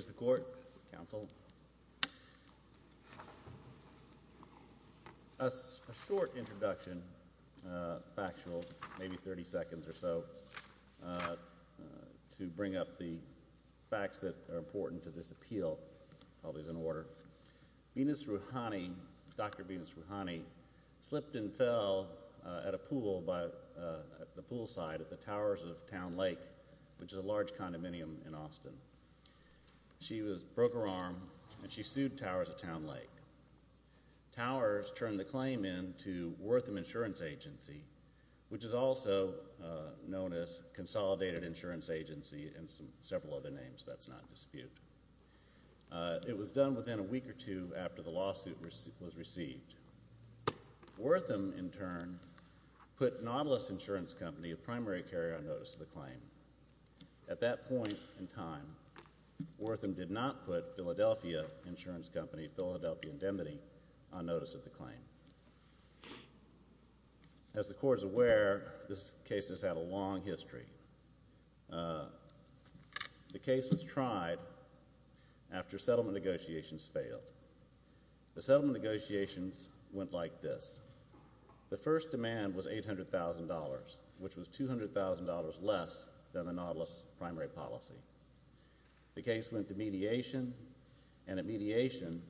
Mr. Court, Counsel. A short introduction, factual, maybe 30 seconds or so, to bring up the facts that are important to this appeal, probably is in order. Venus Rouhani, Dr. Venus Rouhani, slipped and fell at a pool by the poolside at the Towers of Town Lake, which is a large condominium in Austin. She broke her arm and she sued Towers of Town Lake. Towers turned the claim in to Wortham Insurance Agency, which is also known as Consolidated Insurance Agency and several other names, that's not in dispute. It was done within a week or two after the lawsuit was received. Wortham, in turn, put Nautilus Insurance Company, a primary carrier, on notice of the claim. At that point in time, Wortham did not put Philadelphia Insurance Company, Philadelphia Indemnity, on notice of the claim. As the Court is aware, this case has had a long history. The case was tried after settlement negotiations failed. The settlement negotiations went like this. The first demand was $800,000, which was $200,000 less than the Nautilus primary policy. The case went to mediation, and at mediation,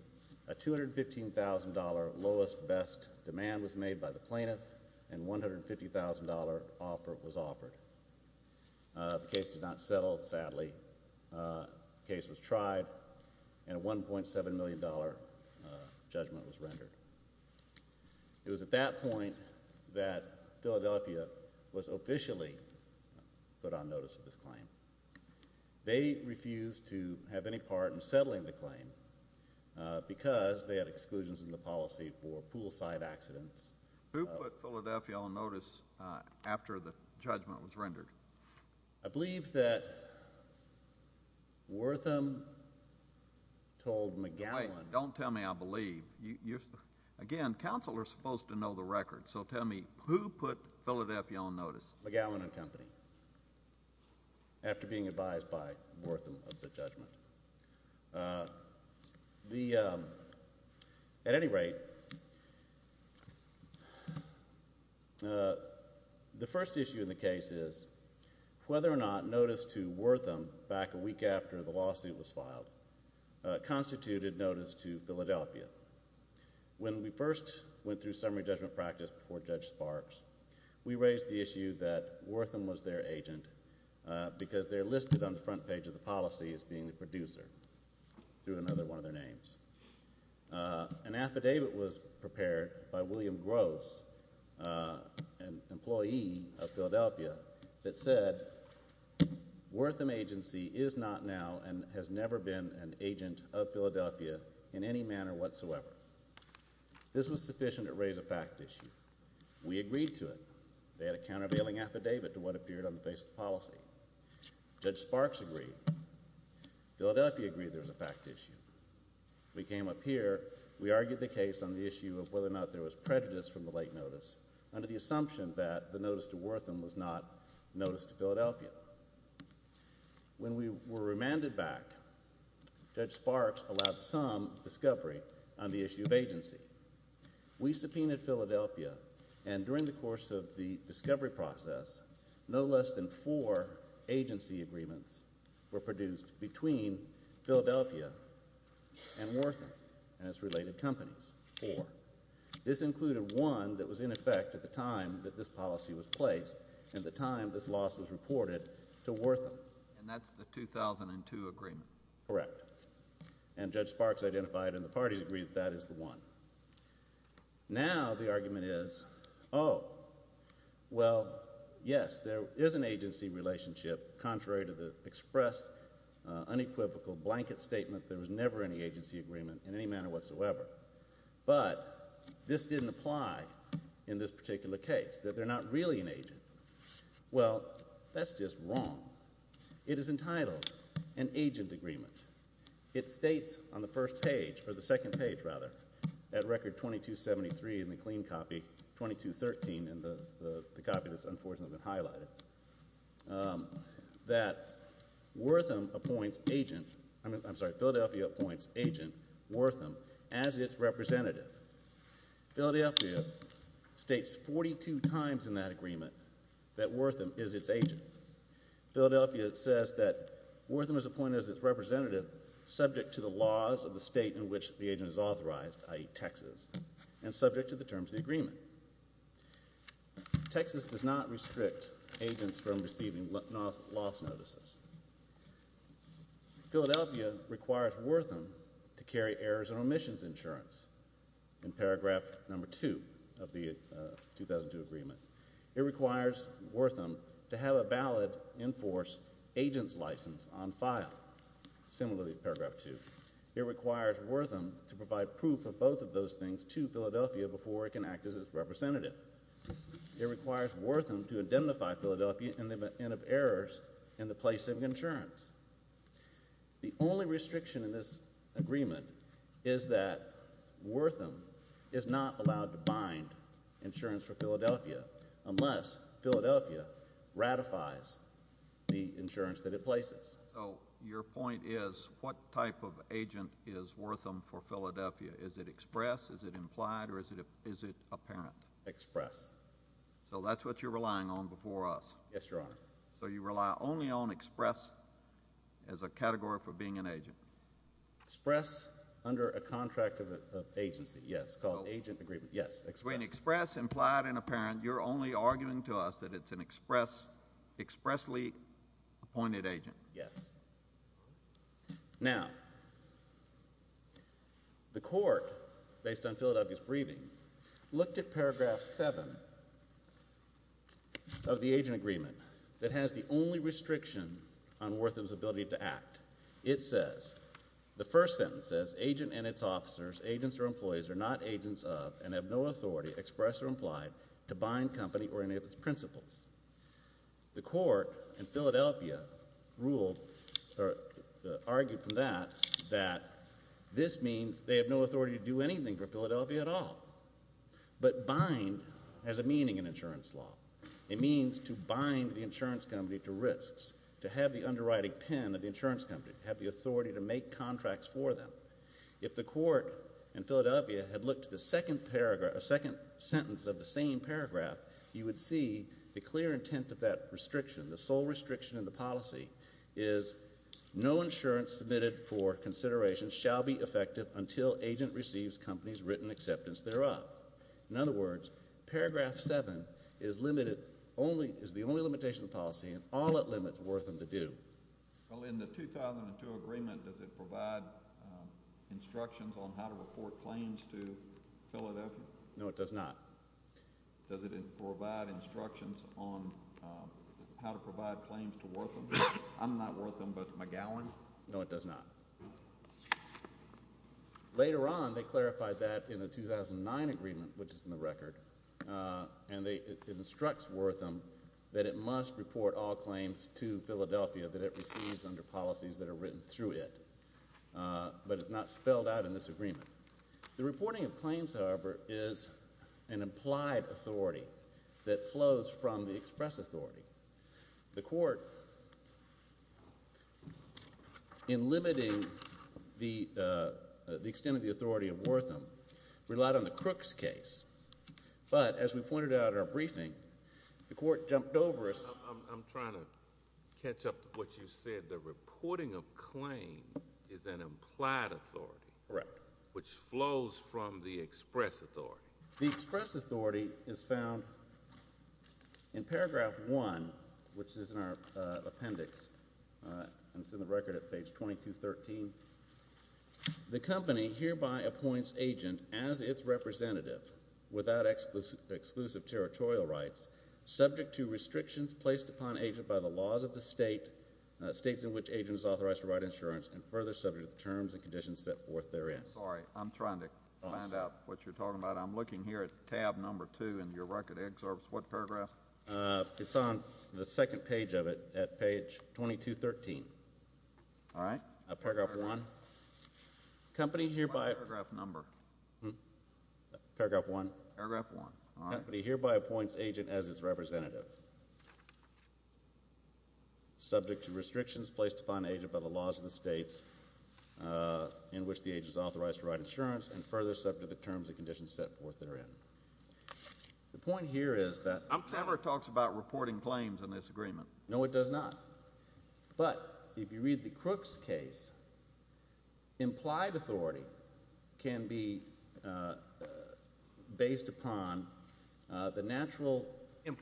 a $215,000 lowest best demand was made by the plaintiff, and $150,000 offer was offered. The case did not settle, sadly. The case was tried, and a $1.7 million judgment was rendered. It was at that point that Philadelphia was officially put on notice of this claim. They refused to have any part in settling the claim because they had exclusions in the policy for poolside accidents. Who put Philadelphia on notice after the judgment was rendered? I believe that Wortham told McGowan. Wait. Don't tell me I believe. Again, counsel are supposed to know the record, so tell me, who put Philadelphia on notice? McGowan and Company, after being advised by Wortham of the judgment. At any rate, the first issue in the case is whether or not notice to Wortham back a week after the lawsuit was filed constituted notice to Philadelphia. When we first went through summary judgment practice before Judge Sparks, we raised the issue that Wortham was their agent because they're listed on the front page of the policy as being the producer through another one of their names. An affidavit was filed. As I said, Wortham Agency is not now and has never been an agent of Philadelphia in any manner whatsoever. This was sufficient to raise a fact issue. We agreed to it. They had a countervailing affidavit to what appeared on the face of the policy. Judge Sparks agreed. Philadelphia agreed there was a fact issue. We came up here. We argued the case on the issue of whether or not there was prejudice from the late notice under the assumption that the notice to Wortham was not notice to Philadelphia. When we were remanded back, Judge Sparks allowed some discovery on the issue of agency. We subpoenaed Philadelphia and during the course of the discovery process, no less than four agency agreements were produced between Philadelphia and Wortham and its related companies. Four. This included one that was in effect at the time that this policy was placed and the time this loss was reported to Wortham. And that's the 2002 agreement. Correct. And Judge Sparks identified and the parties agreed that that is the one. Now, the argument is, oh, well, yes, there is an agency relationship. Contrary to the express unequivocal blanket statement, there was never any agency agreement in any manner whatsoever. But this didn't apply in this particular case, that they're not really an agent. Well, that's just wrong. It is entitled an agent agreement. It states on the first page, or the second page, rather, at record 2273 in the clean copy, 2213 in the copy that's unfortunately been highlighted, that Wortham appoints agent, I'm sorry, Philadelphia appoints agent Wortham as its representative. Philadelphia states 42 times in that agreement that Wortham is its agent. Philadelphia says that Wortham is appointed as its representative subject to the laws of the state in which the agent is authorized, i.e., Texas, and subject to the terms of the agreement. Texas does not have an agent license. Philadelphia requires Wortham to carry errors and omissions insurance in paragraph number 2 of the 2002 agreement. It requires Wortham to have a valid enforced agent's license on file, similarly to paragraph 2. It requires Wortham to provide proof of both of those things to Philadelphia before it can act as its representative. It requires the only restriction in this agreement is that Wortham is not allowed to bind insurance for Philadelphia unless Philadelphia ratifies the insurance that it places. Your point is, what type of agent is Wortham for Philadelphia? Is it express? Is it implied? Or is it apparent? Express. So that's what you're relying on before us. Yes, Your Honor. So you rely only on express as a category for being an agent. Express under a contract of agency, yes, called agent agreement, yes, express. When express, implied, and apparent, you're only arguing to us that it's an express, expressly appointed agent. Yes. Now, the Court, based on Philadelphia's briefing, looked at paragraph 7 of the agent agreement that has the only restriction on Wortham's ability to act. It says, the first sentence says, agent and its officers, agents or employees, are not agents of, and have no authority, express or implied, to bind company or any of its principals. The Court in Philadelphia ruled, or argued from that, that this means they have no authority to do anything for Philadelphia at all. But bind has a meaning in insurance law. It means to bind the insurance company to risks, to have the underwriting pen of the insurance company, have the authority to make contracts for them. If the Court in Philadelphia had looked at the second sentence of the same paragraph, you would see the clear intent of that restriction, the sole restriction in the policy is, no insurance submitted for consideration shall be effective until agent receives company's consent and acceptance thereof. In other words, paragraph 7 is limited, only, is the only limitation of the policy, and all it limits Wortham to do. Well, in the 2002 agreement, does it provide instructions on how to report claims to Philadelphia? No, it does not. Does it provide instructions on how to provide claims to Wortham? I'm not Wortham, but McGowan. No, it does not. Later on, they clarified that in the 2009 agreement, which is in the record, and it instructs Wortham that it must report all claims to Philadelphia that it receives under policies that are written through it. But it's not spelled out in this agreement. The reporting of claims, however, is an implied authority that flows from the express authority. The court, in limiting the extent of the authority of Wortham, relied on the Crooks case. But as we pointed out in our briefing, the court jumped over us. I'm trying to catch up to what you said. The reporting of claims is an implied authority which flows from the express authority. The express authority is found in paragraph one, which is in our appendix, and it's in the record at page 2213. The company hereby appoints agent as its representative, without exclusive territorial rights, subject to restrictions placed upon agent by the laws of the state, states in which agent is authorized to write insurance, and further subject to the terms and conditions set forth therein. I'm sorry. I'm trying to find out what you're talking about. I'm looking here at tab number two in your record. It excerpts what paragraph? It's on the second page of it, at page 2213. All right. Paragraph one. Company hereby appoints agent as its representative, subject to restrictions placed upon agent by the laws of the state, states in which agent is authorized to write insurance, and further subject to the terms and conditions set forth therein. The point here is that... I'm sorry. It talks about reporting claims in this agreement. No, it does not. But if you read the Crooks case, implied authority can be based upon the natural... If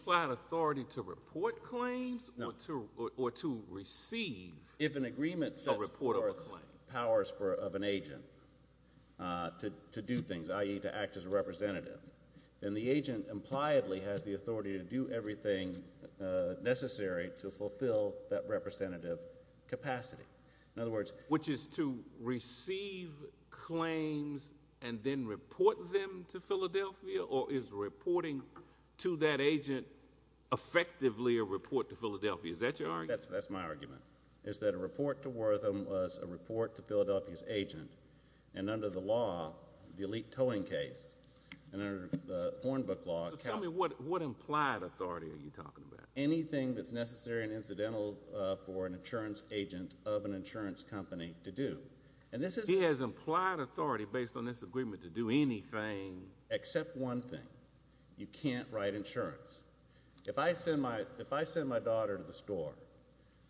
an agreement sets forth powers of an agent to do things, i.e., to act as a representative, then the agent impliedly has the authority to do everything necessary to fulfill that representative capacity. In other words... Which is to receive claims and then report them to Philadelphia? Or is reporting to that agent effectively a report to Philadelphia? Is that your argument? That's my argument, is that a report to Wortham was a report to Philadelphia's agent, and under the law, the elite towing case, and under the Hornbook law... So tell me, what implied authority are you talking about? Anything that's necessary and incidental for an insurance agent of an insurance company to do. And this is... He has implied authority based on this agreement to do anything...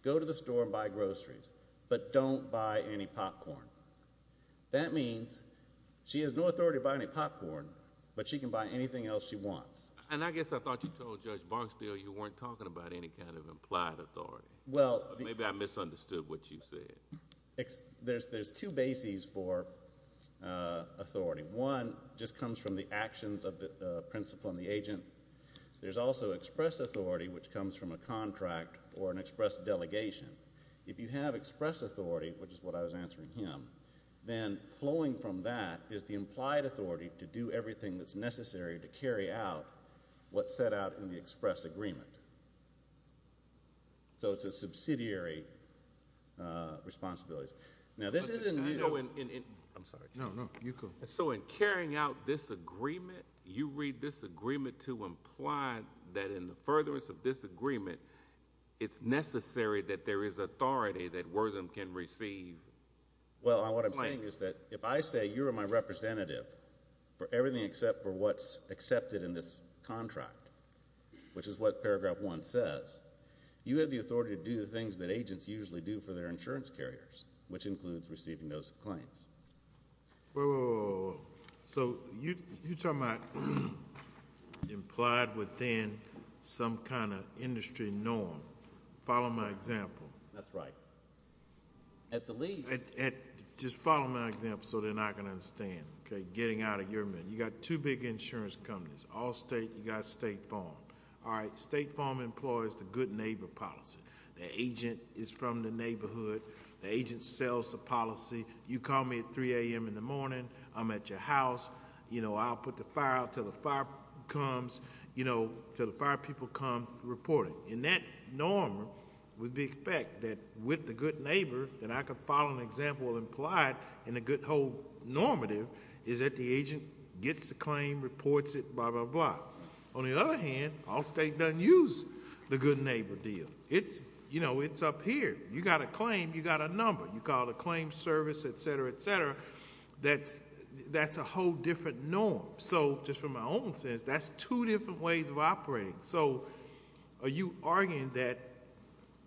Go to the store and buy groceries, but don't buy any popcorn. That means she has no authority to buy any popcorn, but she can buy anything else she wants. And I guess I thought you told Judge Barksdale you weren't talking about any kind of implied authority. Maybe I misunderstood what you said. There's two bases for authority. One just comes from the actions of the principal and the agent. There's also express authority, which comes from a contract or an express delegation. If you have express authority, which is what I was answering him, then flowing from that is the implied authority to do everything that's necessary to carry out what's set out in the express agreement. So it's a subsidiary responsibility. Now this isn't... You know, in... I'm sorry. No, no. You go. So in carrying out this agreement, you read this agreement to imply that in the furtherance of this agreement, it's necessary that there is authority that Wortham can receive... Well, what I'm saying is that if I say you're my representative for everything except for what's accepted in this contract, which is what paragraph one says, you have the authority to do the things that agents usually do for their insurance carriers, which includes receiving those claims. Wait, wait, wait, wait, wait. So you're talking about implied within some kind of industry norm. Follow my example. That's right. At the least... Just follow my example so they're not going to understand, okay, getting out of your mind. You've got two big insurance companies, Allstate and you've got State Farm. All right, State Farm employs the good neighbor policy. The agent is from the neighborhood. The agent sells the policy. You call me at 3 a.m. in the morning. I'm at your house. I'll put the fire out until the fire comes... until the fire people come reporting. In that norm, we'd expect that with the good neighbor, that I could follow an example implied in the good whole normative, is that the agent gets the claim, reports it, blah, blah, blah. On the other hand, Allstate doesn't use the good neighbor deal. It's up here. You've got a claim. You've got a number. You call the claim service, et cetera, et cetera. That's a whole different norm. Just from my own sense, that's two different ways of operating. Are you arguing that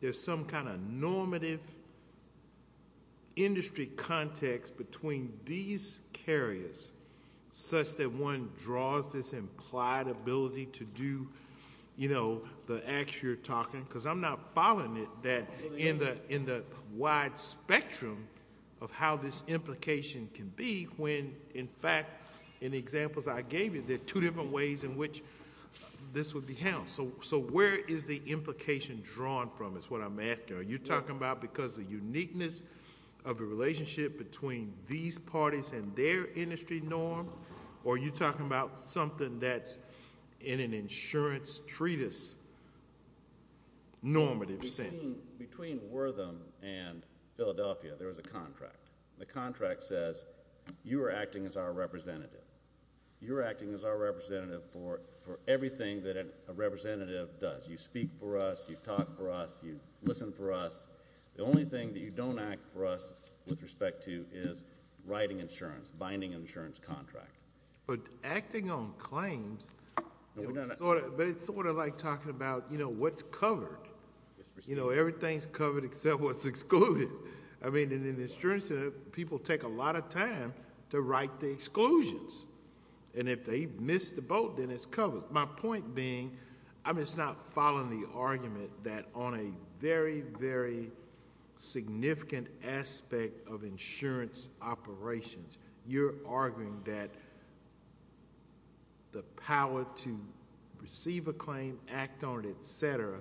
there's some kind of normative industry context between these carriers such that one draws this implied ability to do the acts you're talking... because I'm not following it... in the wide spectrum of how this implication can be when, in fact, in the examples I gave you, there are two different ways in which this would be held. Where is the implication drawn from is what I'm asking. Are you talking about because of the uniqueness of the relationship between these parties and their industry norm, or are you talking about something that's in an insurance treatise normative sense? Between Wortham and Philadelphia, there was a contract. The contract says, you are acting as our representative. You're acting as our representative for everything that a representative does. You speak for us. You talk for us. You listen for us. The only thing that you don't act for us with respect to is writing insurance, binding an insurance contract. But acting on claims, it's sort of like talking about what's covered. Everything's covered except what's excluded. In the insurance industry, people take a lot of time to write the exclusions, and if they miss the boat, then it's covered. My point being, it's not following the argument that on a very, very significant aspect of insurance operations, you're arguing that the power to receive a claim, act on it, etc.,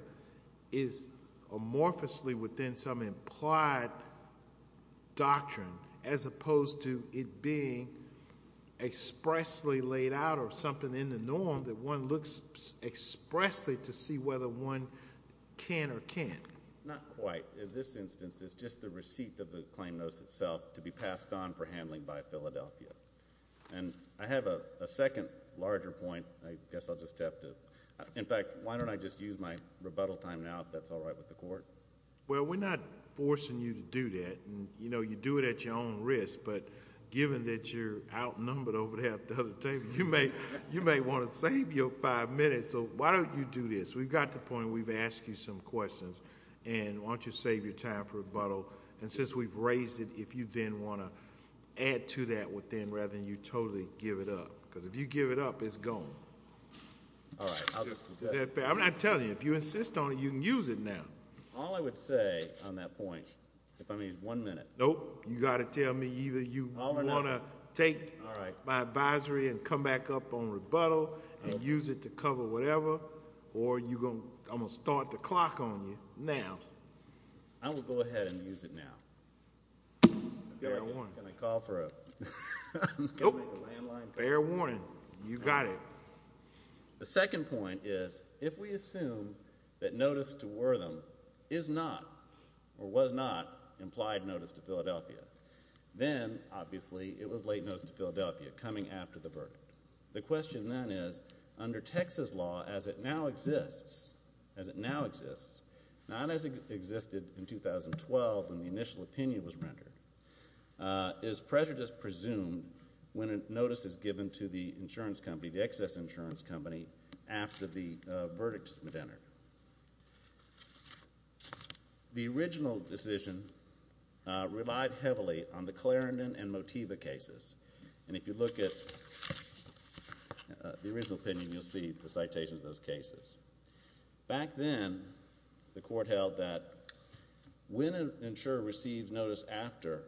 is amorphously within some implied doctrine as opposed to it being expressly laid out or something in the norm that one looks expressly to see whether one can or can't. Not quite. In this instance, it's just the receipt of the claim notice itself to be passed on for handling by Philadelphia. I have a second larger point. In fact, why don't I just use my rebuttal time now, if that's all right with the Court? Well, we're not forcing you to do that. You do it at your own risk, but given that you're outnumbered over there at the other table, you may want to save your five minutes, so why don't you do this? We've got the point. We've asked you some questions, and why don't you save your time for rebuttal? Since we've raised it, if you then want to add to that within rather than you totally give it up, because if you give it up, it's gone. All right. I'll just do that. I'm not telling you. If you insist on it, you can use it now. All I would say on that point, if I may, is one minute. Nope. You've got to tell me either you want to take my advisory and come back up on rebuttal and use it to cover whatever, or I'm going to start the clock on you now. I will go ahead and use it now. Fair warning. Can I call for a landline call? Nope. Fair warning. You got it. The second point is, if we assume that notice to Wortham is not or was not implied notice to Philadelphia, then, obviously, it was late notice to Philadelphia coming after the verdict. The question then is, under Texas law, as it now exists, as it now exists, not as it existed in 2012 when the initial opinion was rendered, is prejudice presumed when a notice is given to the insurance company, the excess insurance company, after the verdict has been entered? The original decision relied heavily on the Clarendon and Motiva cases, and if you look at the original opinion, you'll see the citations of those cases. Back then, the court held that when an insurer receives notice after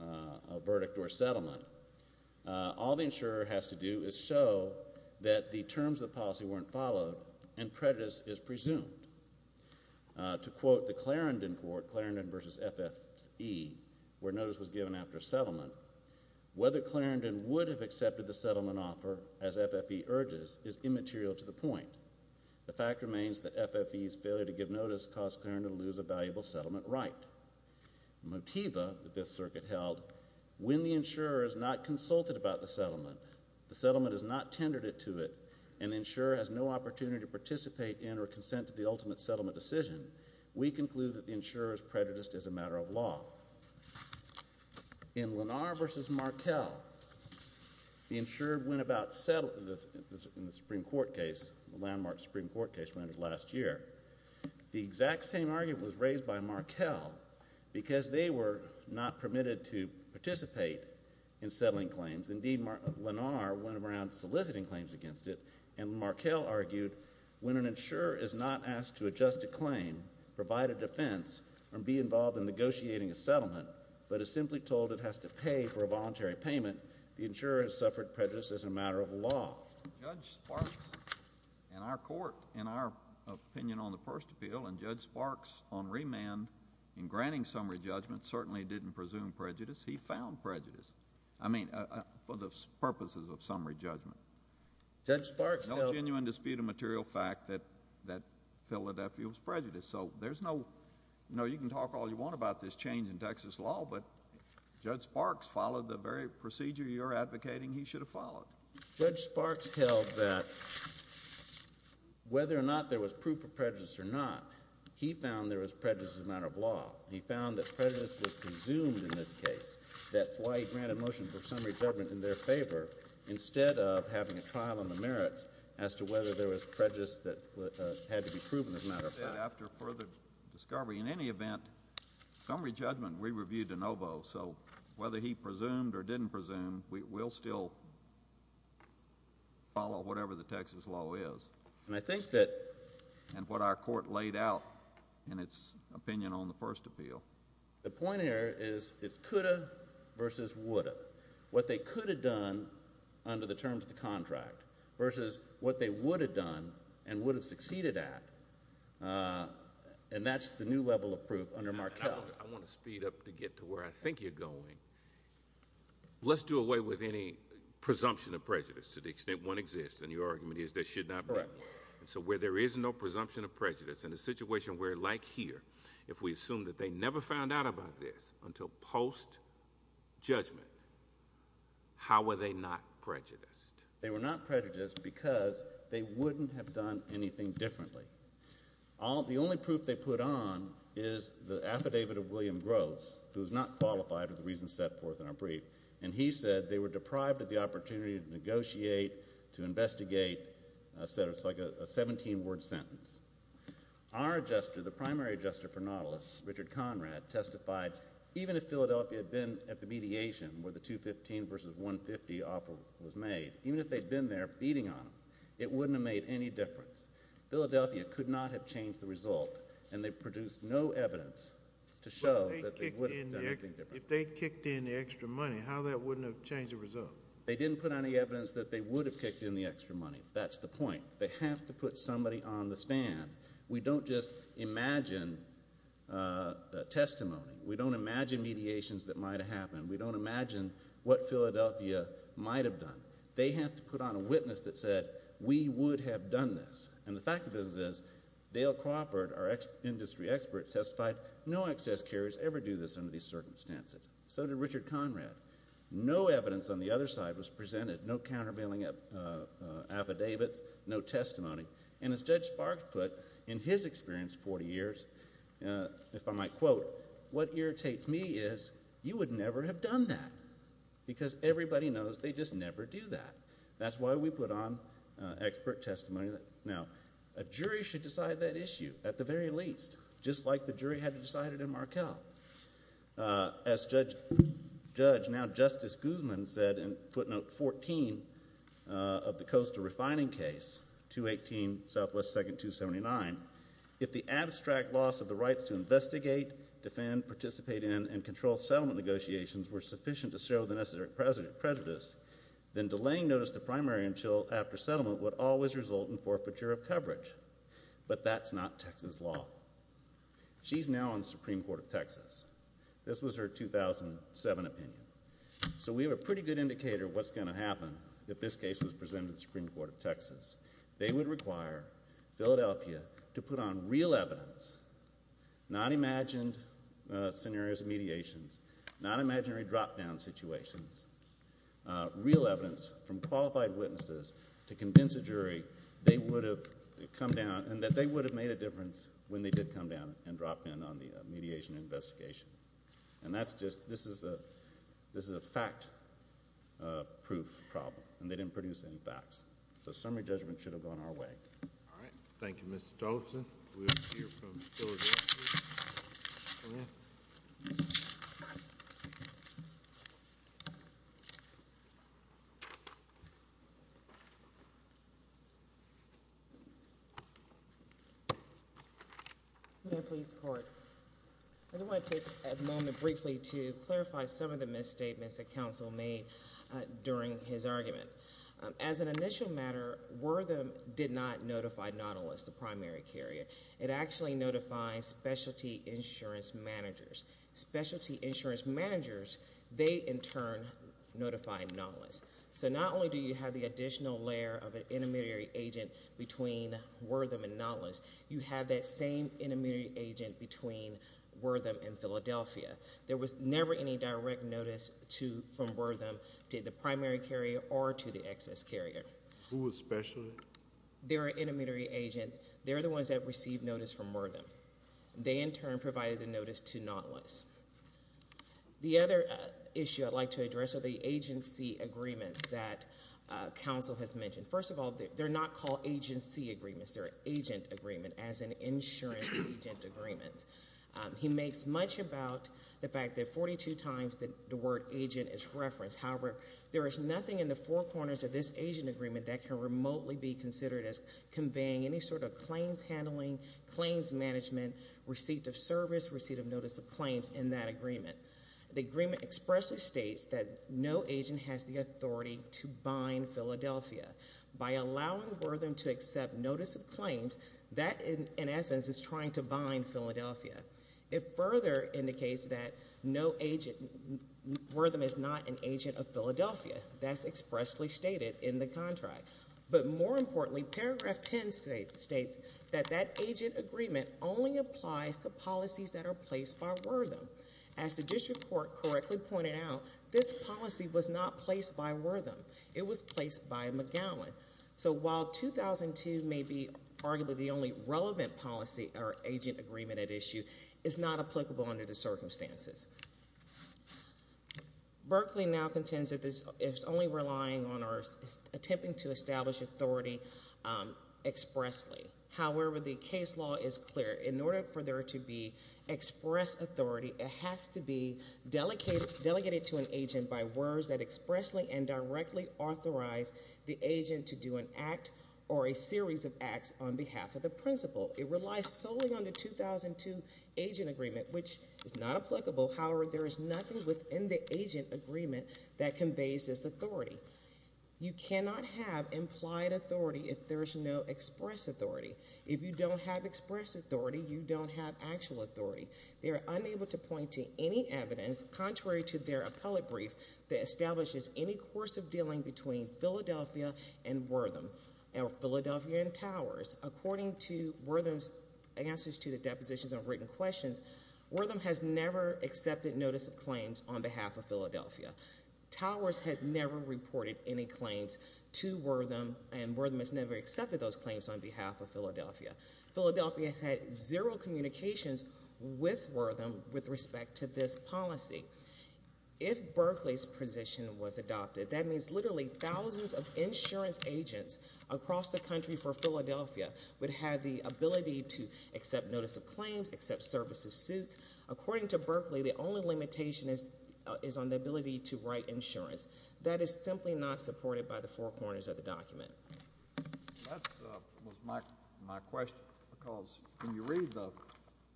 a verdict or settlement, all the insurer has to do is show that the terms of the policy weren't followed and prejudice is presumed. To quote the Clarendon Court, Clarendon v. FFE, where notice was given after settlement, whether Clarendon would have accepted the settlement offer, as FFE urges, is immaterial to the point. The fact remains that FFE's failure to give notice caused Clarendon to lose a valuable settlement right. Motiva, the Fifth Circuit held, when the insurer is not consulted about the settlement, the settlement is not tendered to it, and the insurer has no opportunity to participate in or consent to the ultimate settlement decision, we conclude that the insurer is prejudiced as a matter of law. In Lenar v. Markell, the insurer went about settling, in the Supreme Court case, the landmark Supreme Court case rendered last year, the exact same argument was raised by Markell because they were not permitted to participate in settling claims. Indeed, Lenar went around soliciting claims against it, and Markell argued when an insurer is not asked to adjust a claim, provide a defense, or be involved in negotiating a settlement, but is simply told it has to pay for a voluntary payment, the insurer has suffered prejudice as a matter of law. Judge Sparks, in our Court, in our opinion on the first appeal, and Judge Sparks on remand in granting summary judgment certainly didn't presume prejudice, he found prejudice, I mean, for the purposes of summary judgment. Judge Sparks held... No genuine dispute of material fact that Philadelphia was prejudiced, so there's no, no, you can talk all you want about this change in Texas law, but Judge Sparks followed the very procedure you're advocating he should have followed. Judge Sparks held that whether or not there was proof of prejudice or not, he found there was prejudice as a matter of law. He found that prejudice was presumed in this case, that's why he granted motion for summary judgment in their favor, instead of having a trial on the merits as to whether there was prejudice that had to be proven as a matter of law. After further discovery, in any event, summary judgment we reviewed de novo, so whether he presumed or didn't presume, we'll still follow whatever the Texas law is, and I think that... And what our Court laid out in its opinion on the first appeal. The point here is it's could have versus would have. What they could have done under the terms of the contract versus what they would have done and would have succeeded at, and that's the new level of proof under Markell. I want to speed up to get to where I think you're going. Let's do away with any presumption of prejudice to the extent one exists, and your argument is there should not be. Correct. And so where there is no presumption of prejudice, in a situation where, like here, if we assume that they never found out about this until post-judgment, how were they not prejudiced? They were not prejudiced because they wouldn't have done anything differently. The only proof they put on is the affidavit of William Groves, who is not qualified for the reasons set forth in our brief, and he said they were deprived of the opportunity to negotiate, to investigate, a sentence like a 17-word sentence. Our adjuster, the primary adjuster for Nautilus, Richard Conrad, testified even if Philadelphia had been at the mediation where the 215 versus 150 offer was made, even if they'd been there beating on them, it wouldn't have made any difference. Philadelphia could not have changed the result, and they produced no evidence to show that they would have done anything different. If they kicked in the extra money, how that wouldn't have changed the result? They didn't put any evidence that they would have kicked in the extra money. That's the point. They have to put somebody on the stand. We don't just imagine testimony. We don't imagine mediations that might have happened. We don't imagine what Philadelphia might have done. They have to put on a witness that said, we would have done this, and the fact of it is Dale Crawford, our industry expert, testified no excess carriers ever do this under these circumstances. So did Richard Conrad. No evidence on the other side was presented, no countervailing affidavits, no testimony, and as Judge Sparks put in his experience 40 years, if I might quote, what irritates me is you would never have done that because everybody knows they just never do that. That's why we put on expert testimony. Now a jury should decide that issue at the very least, just like the jury had decided in Markell. As Judge, now Justice Guzman, said in footnote 14 of the Coastal Refining case, 218 Southwest Second 279, if the abstract loss of the rights to investigate, defend, participate in, and control settlement negotiations were sufficient to show the necessary prejudice, then delaying notice to primary until after settlement would always result in forfeiture of coverage. But that's not Texas law. She's now on the Supreme Court of Texas. This was her 2007 opinion. So we have a pretty good indicator of what's going to happen if this case was presented to the Supreme Court of Texas. They would require Philadelphia to put on real evidence, not imagined scenarios of mediations, not imaginary drop-down situations, real evidence from qualified witnesses to convince a jury they would have come down and that they would have made a difference when they did come down and drop in on the mediation investigation. And that's just, this is a fact-proof problem, and they didn't produce any facts. So summary judgment should have gone our way. All right. Thank you, Mr. Tollefson. We'll hear from Philadelphia. Come in. I just want to take a moment briefly to clarify some of the misstatements that counsel made during his argument. As an initial matter, Wertham did not notify Nautilus, the primary carrier. It actually notifies specialty insurance managers. Specialty insurance managers, they in turn notify Nautilus. So not only do you have the additional layer of an intermediary agent between Wertham and Nautilus, you have that same intermediary agent between Wertham and Philadelphia. There was never any direct notice from Wertham to the primary carrier or to the excess carrier. Who was special? They're an intermediary agent. They're the ones that received notice from Wertham. They in turn provided the notice to Nautilus. The other issue I'd like to address are the agency agreements that counsel has mentioned. First of all, they're not called agency agreements. They're agent agreements, as in insurance agent agreements. He makes much about the fact that 42 times the word agent is referenced. However, there is nothing in the four corners of this agent agreement that can remotely be considered as conveying any sort of claims handling, claims management, receipt of service, receipt of notice of claims in that agreement. The agreement expressly states that no agent has the authority to bind Philadelphia. By allowing Wertham to accept notice of claims, that in essence is trying to bind Philadelphia. It further indicates that no agent, Wertham is not an agent of Philadelphia. That's expressly stated in the contract. But more importantly, paragraph ten states that that agent agreement only applies to policies that are placed by Wertham. As the district court correctly pointed out, this policy was not placed by Wertham. It was placed by McGowan. So while 2002 may be arguably the only relevant policy or agent agreement at issue, it's not applicable under the circumstances. Berkeley now contends that this is only relying on or attempting to establish authority expressly. However, the case law is clear. In order for there to be express authority, it has to be delegated to an agent by words that expressly and directly authorize the agent to do an act or a series of acts on behalf of the principal. It relies solely on the 2002 agent agreement, which is not applicable. However, there is nothing within the agent agreement that conveys this authority. You cannot have implied authority if there is no express authority. If you don't have express authority, you don't have actual authority. They are unable to point to any evidence, contrary to their appellate brief, that establishes any course of dealing between Philadelphia and Wertham, or Philadelphia and Towers. According to Wertham's answers to the depositions of written questions, Wertham has never accepted notice of claims on behalf of Philadelphia. Towers had never reported any claims to Wertham, and Wertham has never accepted those claims on behalf of Philadelphia. Philadelphia has had zero communications with Wertham with respect to this policy. If Berkeley's position was adopted, that means literally thousands of insurance agents across the country for Philadelphia would have the ability to accept notice of claims, accept service of suits. According to Berkeley, the only limitation is on the ability to write insurance. That is simply not supported by the four corners of the document. That was my question, because when you read the,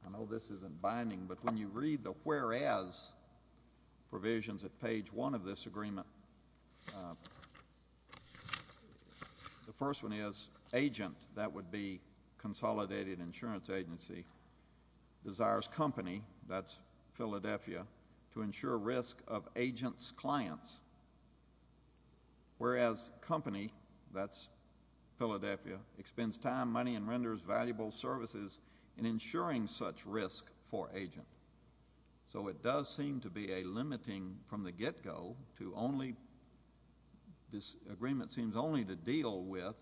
I know this isn't binding, but when you read the whereas provisions at page one of this agreement, the first one is agent, that would be consolidated insurance agency, desires company, that's Philadelphia, to ensure risk of agent's clients, whereas company, that's Philadelphia, expends time, money, and renders valuable services in ensuring such risk for agent. So it does seem to be a limiting from the get-go to only, this agreement seems only to deal with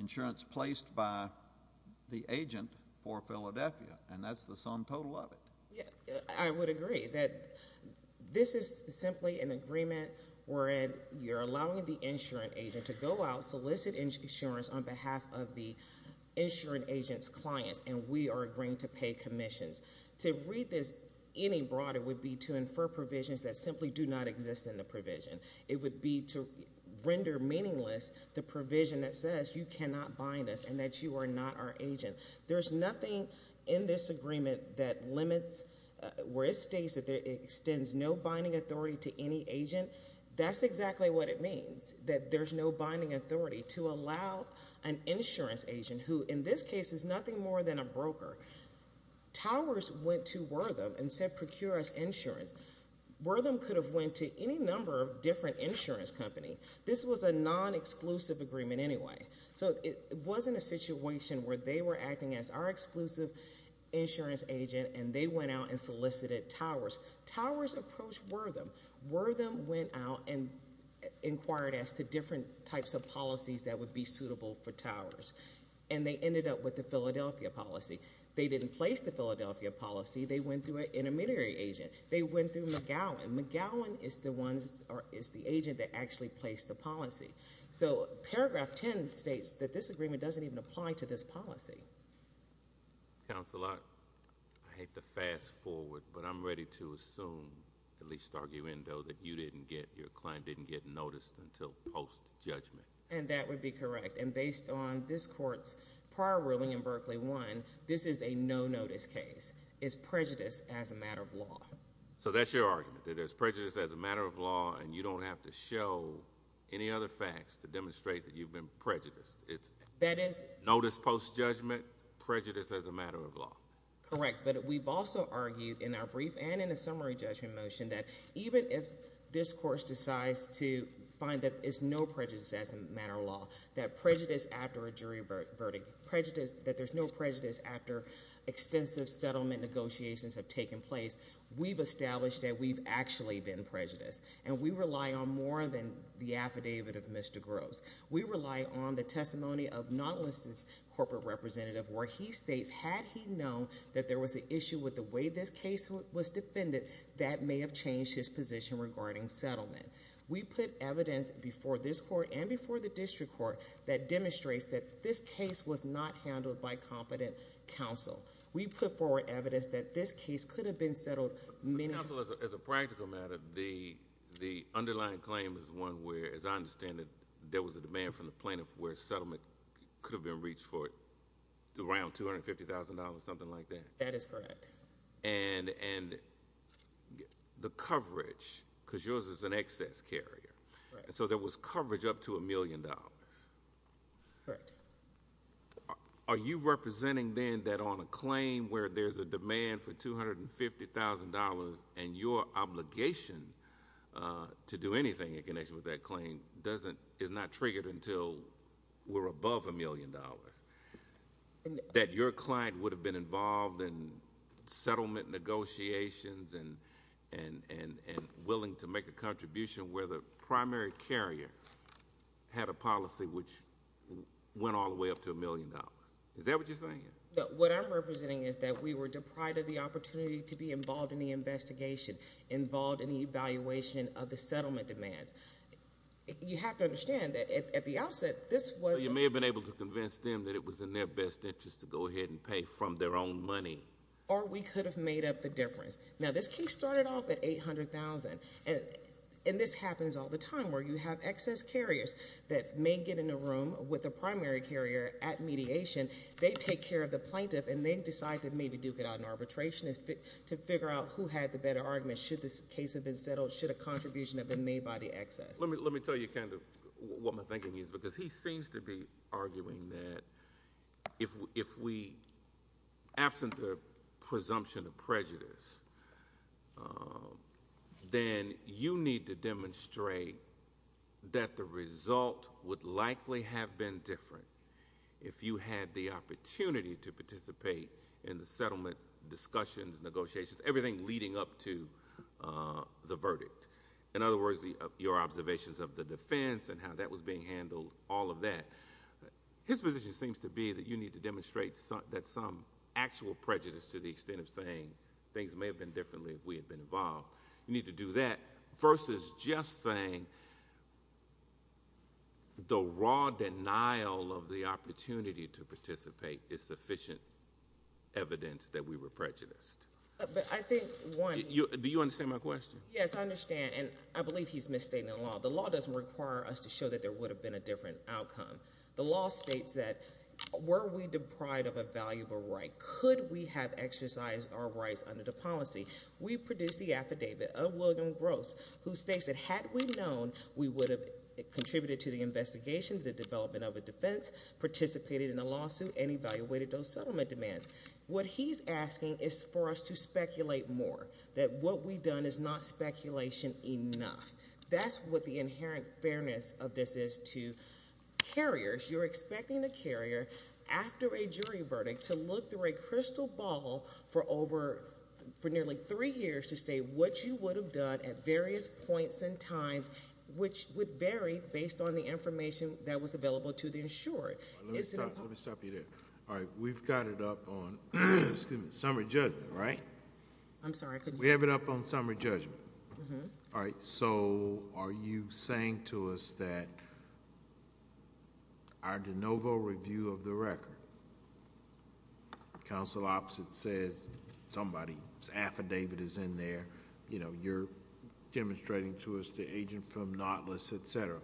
insurance placed by the agent for Philadelphia, and that's the sum total of it. Yeah, I would agree that this is simply an agreement where you're allowing the insurance agent to go out, solicit insurance on behalf of the insurance agent's clients, and we are agreeing to pay commissions. To read this any broader would be to infer provisions that simply do not exist in the provision. It would be to render meaningless the provision that says you cannot bind us, and that you are not our agent. There's nothing in this agreement that limits, where it states that it extends no binding authority to any agent, that's exactly what it means. That there's no binding authority to allow an insurance agent, who in this case is nothing more than a broker, Towers went to Wortham and said procure us insurance. Wortham could have went to any number of different insurance company. This was a non-exclusive agreement anyway. So it wasn't a situation where they were acting as our exclusive insurance agent, and they went out and solicited Towers. Towers approached Wortham. Wortham went out and inquired as to different types of policies that would be suitable for Towers. And they ended up with the Philadelphia policy. They didn't place the Philadelphia policy. They went through an intermediary agent. They went through McGowan. McGowan is the agent that actually placed the policy. So paragraph ten states that this agreement doesn't even apply to this policy. Councilor, I hate to fast forward, but I'm ready to assume, at least argue in though, that your client didn't get noticed until post-judgment. And that would be correct. And based on this court's prior ruling in Berkeley 1, this is a no-notice case. It's prejudice as a matter of law. So that's your argument, that it's prejudice as a matter of law, and you don't have to show any other facts to demonstrate that you've been prejudiced. It's notice post-judgment, prejudice as a matter of law. Correct. But we've also argued in our brief and in a summary judgment motion that even if this court decides to find that there's no prejudice as a matter of law, that prejudice after a jury verdict, that there's no prejudice after extensive settlement negotiations have taken place, we've established that we've actually been prejudiced. And we rely on more than the affidavit of Mr. Groves. We rely on the testimony of Nautilus's corporate representative, where he states, had he known that there was an issue with the way this case was defended, that may have changed his position regarding settlement. We put evidence before this court and before the district court that demonstrates that this case was not handled by competent counsel. We put forward evidence that this case could have been settled many times— Counsel, as a practical matter, the underlying claim is one where, as I understand it, there was a demand from the plaintiff where settlement could have been reached for around $250,000, something like that? That is correct. And the coverage, because yours is an excess carrier. Right. So there was coverage up to $1 million. Correct. Are you representing then that on a claim where there's a demand for $250,000 and your obligation to do anything in connection with that claim is not triggered until we're above $1 million? That your client would have been involved in settlement negotiations and willing to make a contribution where the primary carrier had a policy which went all the way up to $1 million. Is that what you're saying? What I'm representing is that we were deprived of the opportunity to be involved in the investigation, involved in the evaluation of the settlement demands. You have to understand that at the outset, this was— You may have been able to convince them that it was in their best interest to go ahead and pay from their own money. Or we could have made up the difference. Now, this case started off at $800,000, and this happens all the time where you have excess carriers that may get in a room with a primary carrier at mediation. They take care of the plaintiff, and they decide to maybe duke it out in arbitration to figure out who had the better argument. Should this case have been settled? Should a contribution have been made by the excess? Let me tell you kind of what my thinking is, because he seems to be arguing that, absent the presumption of prejudice, then you need to demonstrate that the result would likely have been different if you had the opportunity to participate in the settlement discussions, negotiations, everything leading up to the verdict. In other words, your observations of the defense and how that was being handled, all of that. His position seems to be that you need to demonstrate that some actual prejudice to the extent of saying things may have been differently if we had been involved. You need to do that versus just saying the raw denial of the opportunity to participate is sufficient evidence that we were prejudiced. But I think, one— Do you understand my question? Yes, I understand, and I believe he's misstating the law. The law doesn't require us to show that there would have been a different outcome. The law states that were we deprived of a valuable right, could we have exercised our rights under the policy? We produced the affidavit of William Gross, who states that had we known we would have contributed to the investigation, the development of a defense, participated in a lawsuit, and evaluated those settlement demands. What he's asking is for us to speculate more, that what we've done is not speculation enough. That's what the inherent fairness of this is to carriers. You're expecting a carrier after a jury verdict to look through a crystal ball for nearly three years to state what you would have done at various points and times, which would vary based on the information that was available to the insurer. Let me stop you there. All right, we've got it up on summer judgment, right? I'm sorry, I couldn't hear. We have it up on summer judgment. All right, so are you saying to us that our de novo review of the record, counsel opposite says somebody's affidavit is in there, you know, you're demonstrating to us the agent from Nautilus, et cetera.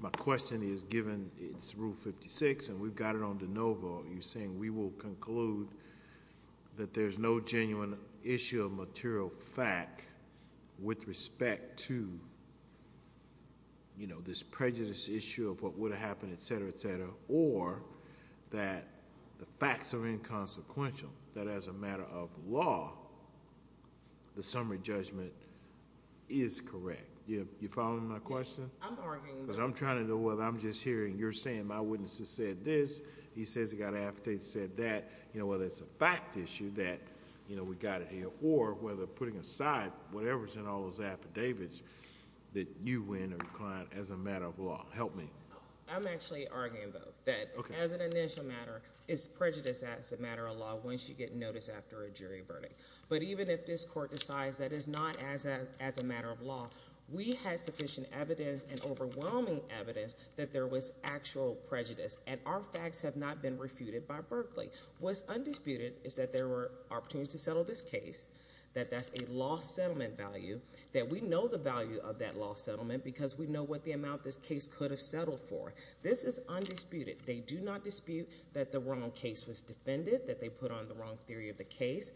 My question is, given it's Rule 56 and we've got it on de novo, you're saying we will conclude that there's no genuine issue of material fact with respect to, you know, this prejudice issue of what would have happened, et cetera, et cetera, or that the facts are inconsequential, that as a matter of law, the summer judgment is correct. You following my question? Yes, I'm working on that. I'm trying to know whether I'm just hearing you're saying my witness has said this, he says he got an affidavit that said that, you know, whether it's a fact issue that, you know, we got it here, or whether putting aside whatever's in all those affidavits that you win or decline as a matter of law. Help me. I'm actually arguing both, that as an initial matter, it's prejudice as a matter of law once you get notice after a jury verdict. But even if this court decides that it's not as a matter of law, we had sufficient evidence and overwhelming evidence that there was actual prejudice. And our facts have not been refuted by Berkeley. What's undisputed is that there were opportunities to settle this case, that that's a lost settlement value, that we know the value of that lost settlement because we know what the amount this case could have settled for. This is undisputed. They do not dispute that the wrong case was defended, that they put on the wrong theory of the case.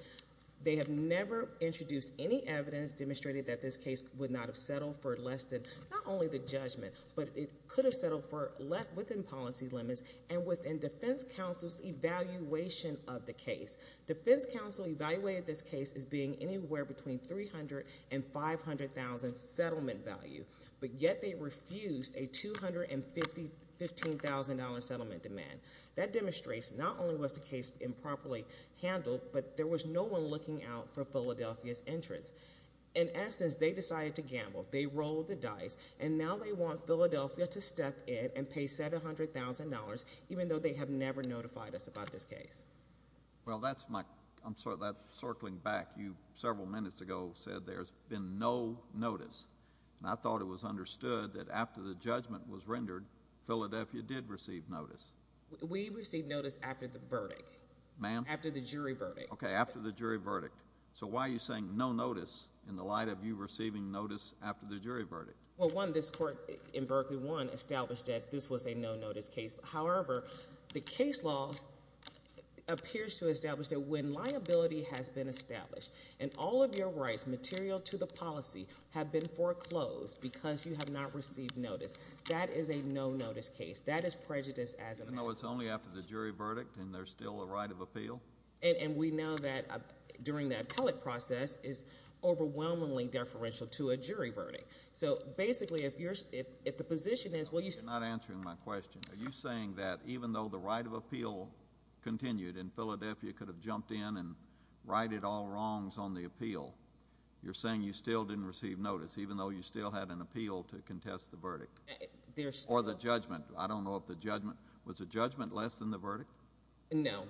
They have never introduced any evidence demonstrating that this case would not have settled for less than not only the judgment, but it could have settled for less within policy limits and within defense counsel's evaluation of the case. Defense counsel evaluated this case as being anywhere between $300,000 and $500,000 settlement value, but yet they refused a $215,000 settlement demand. That demonstrates not only was the case improperly handled, but there was no one looking out for Philadelphia's interests. In essence, they decided to gamble. They rolled the dice, and now they want Philadelphia to step in and pay $700,000, even though they have never notified us about this case. Well, that's my... I'm sorry, circling back, you several minutes ago said there's been no notice. I thought it was understood that after the judgment was rendered, Philadelphia did receive notice. We received notice after the verdict. Ma'am? After the jury verdict. Okay, after the jury verdict. So why are you saying no notice in the light of you receiving notice after the jury verdict? Well, one, this court in Berkeley, one, established that this was a no-notice case. However, the case law appears to establish that when liability has been established and all of your rights material to the policy have been foreclosed because you have not received notice, that is a no-notice case. That is prejudice as a matter of... Even though it's only after the jury verdict and there's still a right of appeal? And we know that during the appellate process is overwhelmingly deferential to a jury verdict. So basically, if the position is... You're not answering my question. Are you saying that even though the right of appeal continued and Philadelphia could have jumped in and righted all wrongs on the appeal, you're saying you still didn't receive notice even though you still had an appeal to contest the verdict? Or the judgment. I don't know if the judgment... Was the judgment less than the verdict? No,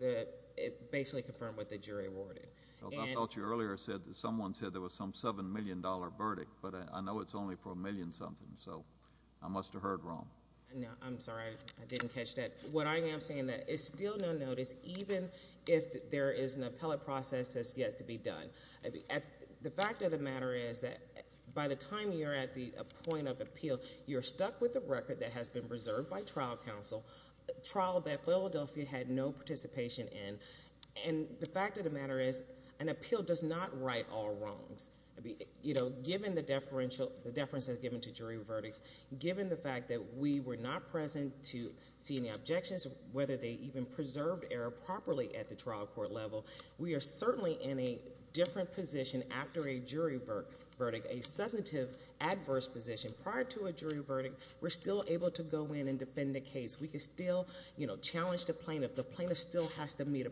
it basically confirmed what the jury awarded. I thought you earlier said that someone said there was some $7 million verdict, but I know it's only for a million something. So I must have heard wrong. No, I'm sorry. I didn't catch that. What I am saying that is still no notice even if there is an appellate process that's yet to be done. The fact of the matter is that by the time you're at the point of appeal, you're stuck with the record that has been reserved by trial counsel, trial that Philadelphia had no participation in. And the fact of the matter is an appeal does not right all wrongs. I mean, given the deference has given to jury verdicts, given the fact that we were not present to see any objections, whether they even preserved error properly at the trial court level, we are certainly in a different position after a jury verdict, a substantive adverse position. Prior to a jury verdict, we're still able to go in and defend the case. We can still challenge the plaintiff. The plaintiff still has to meet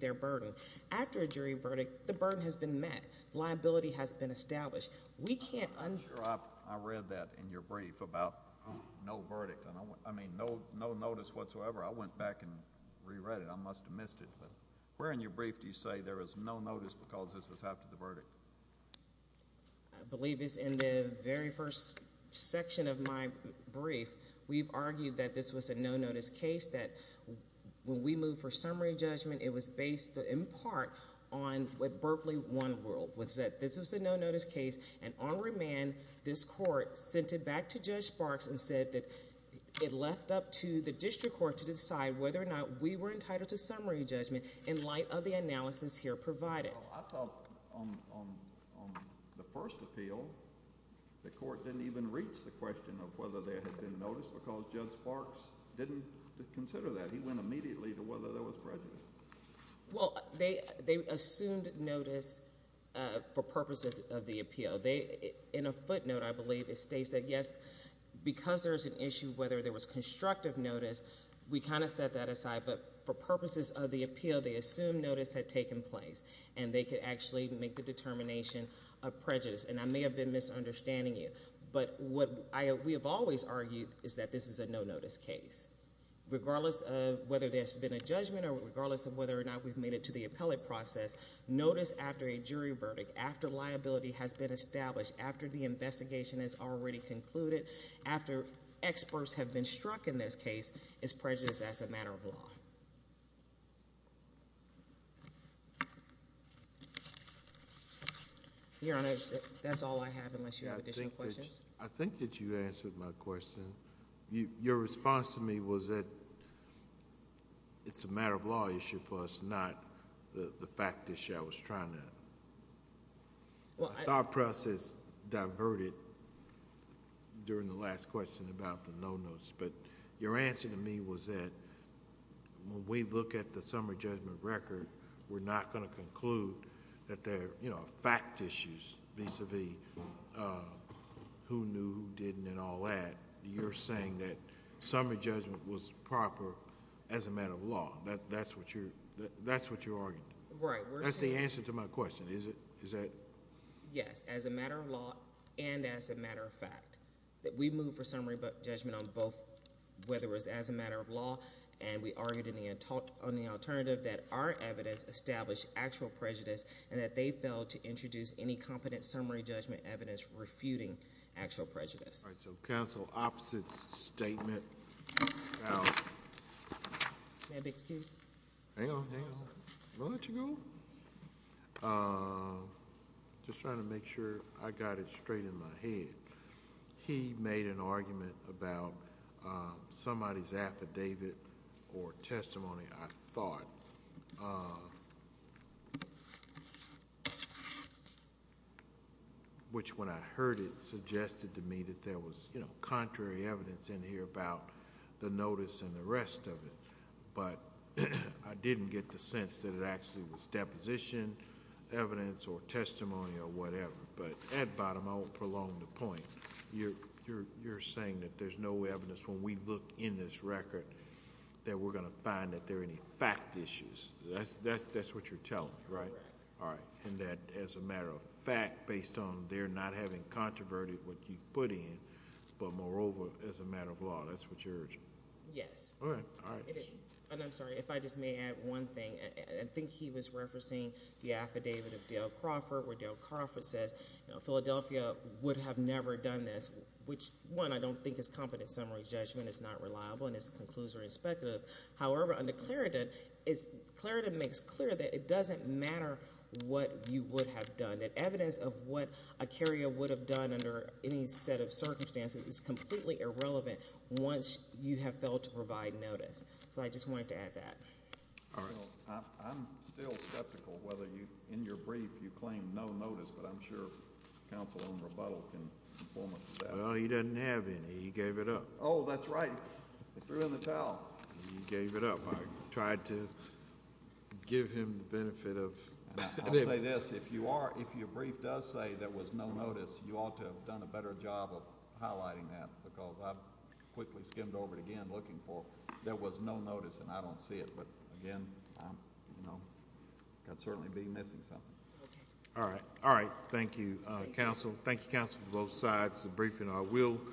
their burden. After a jury verdict, the burden has been met. Liability has been established. We can't un- I'm sure I read that in your brief about no verdict. I mean, no notice whatsoever. I went back and reread it. I must have missed it. But where in your brief do you say there is no notice because this was after the verdict? I believe it's in the very first section of my brief. We've argued that this was a no notice case, that when we moved for summary judgment, it was based in part on what Berkeley won world, was that this was a no notice case. And on remand, this court sent it back to Judge Sparks and said that it left up to the district court to decide whether or not we were entitled to summary judgment in light of the analysis here provided. Well, I felt on the first appeal, the court didn't even reach the question of whether there had been notice because Judge Sparks didn't consider that. He went immediately to whether there was prejudice. Well, they assumed notice for purposes of the appeal. In a footnote, I believe it states that yes, because there's an issue whether there was constructive notice, we kind of set that aside. But for purposes of the appeal, they assumed notice had taken place and they could actually make the determination of prejudice. And I may have been misunderstanding you. But what we have always argued is that this is a no notice case. Regardless of whether there's been a judgment or regardless of whether or not we've made it to the appellate process, notice after a jury verdict, after liability has been established, after the investigation has already concluded, after experts have been struck in this case, is prejudice as a matter of law. Your Honor, that's all I have unless you have additional questions. I think that you answered my question. Your response to me was that it's a matter of law issue for us, not the fact issue I was trying to... Our process diverted during the last question about the no notice. But your answer to me was that when we look at the summary judgment record, we're not going to conclude that there are fact issues vis-a-vis who knew, who didn't, and all that. You're saying that summary judgment was proper as a matter of law. That's what you're arguing. Right. That's the answer to my question, is it? Yes, as a matter of law and as a matter of fact. We moved for summary judgment on both whether it was as a matter of law and we argued on the alternative that our evidence established actual prejudice and that they failed to introduce any competent summary judgment evidence refuting actual prejudice. All right, so counsel, opposite statement about... May I have the excuse? Hang on, hang on. Will that you go? Just trying to make sure I got it straight in my head. He made an argument about somebody's affidavit or testimony, I thought. Which, when I heard it, suggested to me that there was contrary evidence in here about the notice and the rest of it. But I didn't get the sense that it actually was deposition evidence or testimony or whatever. But at bottom, I won't prolong the point. You're saying that there's no evidence when we look in this record that we're going to find that there are any fact issues. That's what you're telling me, right? All right, and that as a matter of fact, based on they're not having controverted what you've put in, but moreover, as a matter of law, that's what you're urging? Yes. And I'm sorry, if I just may add one thing. I think he was referencing the affidavit of Dale Crawford, where Dale Crawford says, Philadelphia would have never done this. Which, one, I don't think his competent summary judgment is not reliable and it's conclusory and speculative. However, under Claritin, Claritin makes clear that it doesn't matter what you would have done. That evidence of what a carrier would have done under any set of circumstances is completely irrelevant once you have failed to provide notice. So I just wanted to add that. All right. Well, I'm still skeptical whether you, in your brief, you claim no notice, but I'm sure counsel on rebuttal can inform us of that. Well, he doesn't have any. He gave it up. Oh, that's right. They threw in the towel. He gave it up. I tried to give him the benefit of it. I'll say this. If you are, if your brief does say there was no notice, you ought to have done a better job of highlighting that because I quickly skimmed over it again looking for, there was no notice and I don't see it. But again, I'd certainly be missing something. All right. All right. Thank you, counsel. Thank you, counsel, for both sides of the briefing.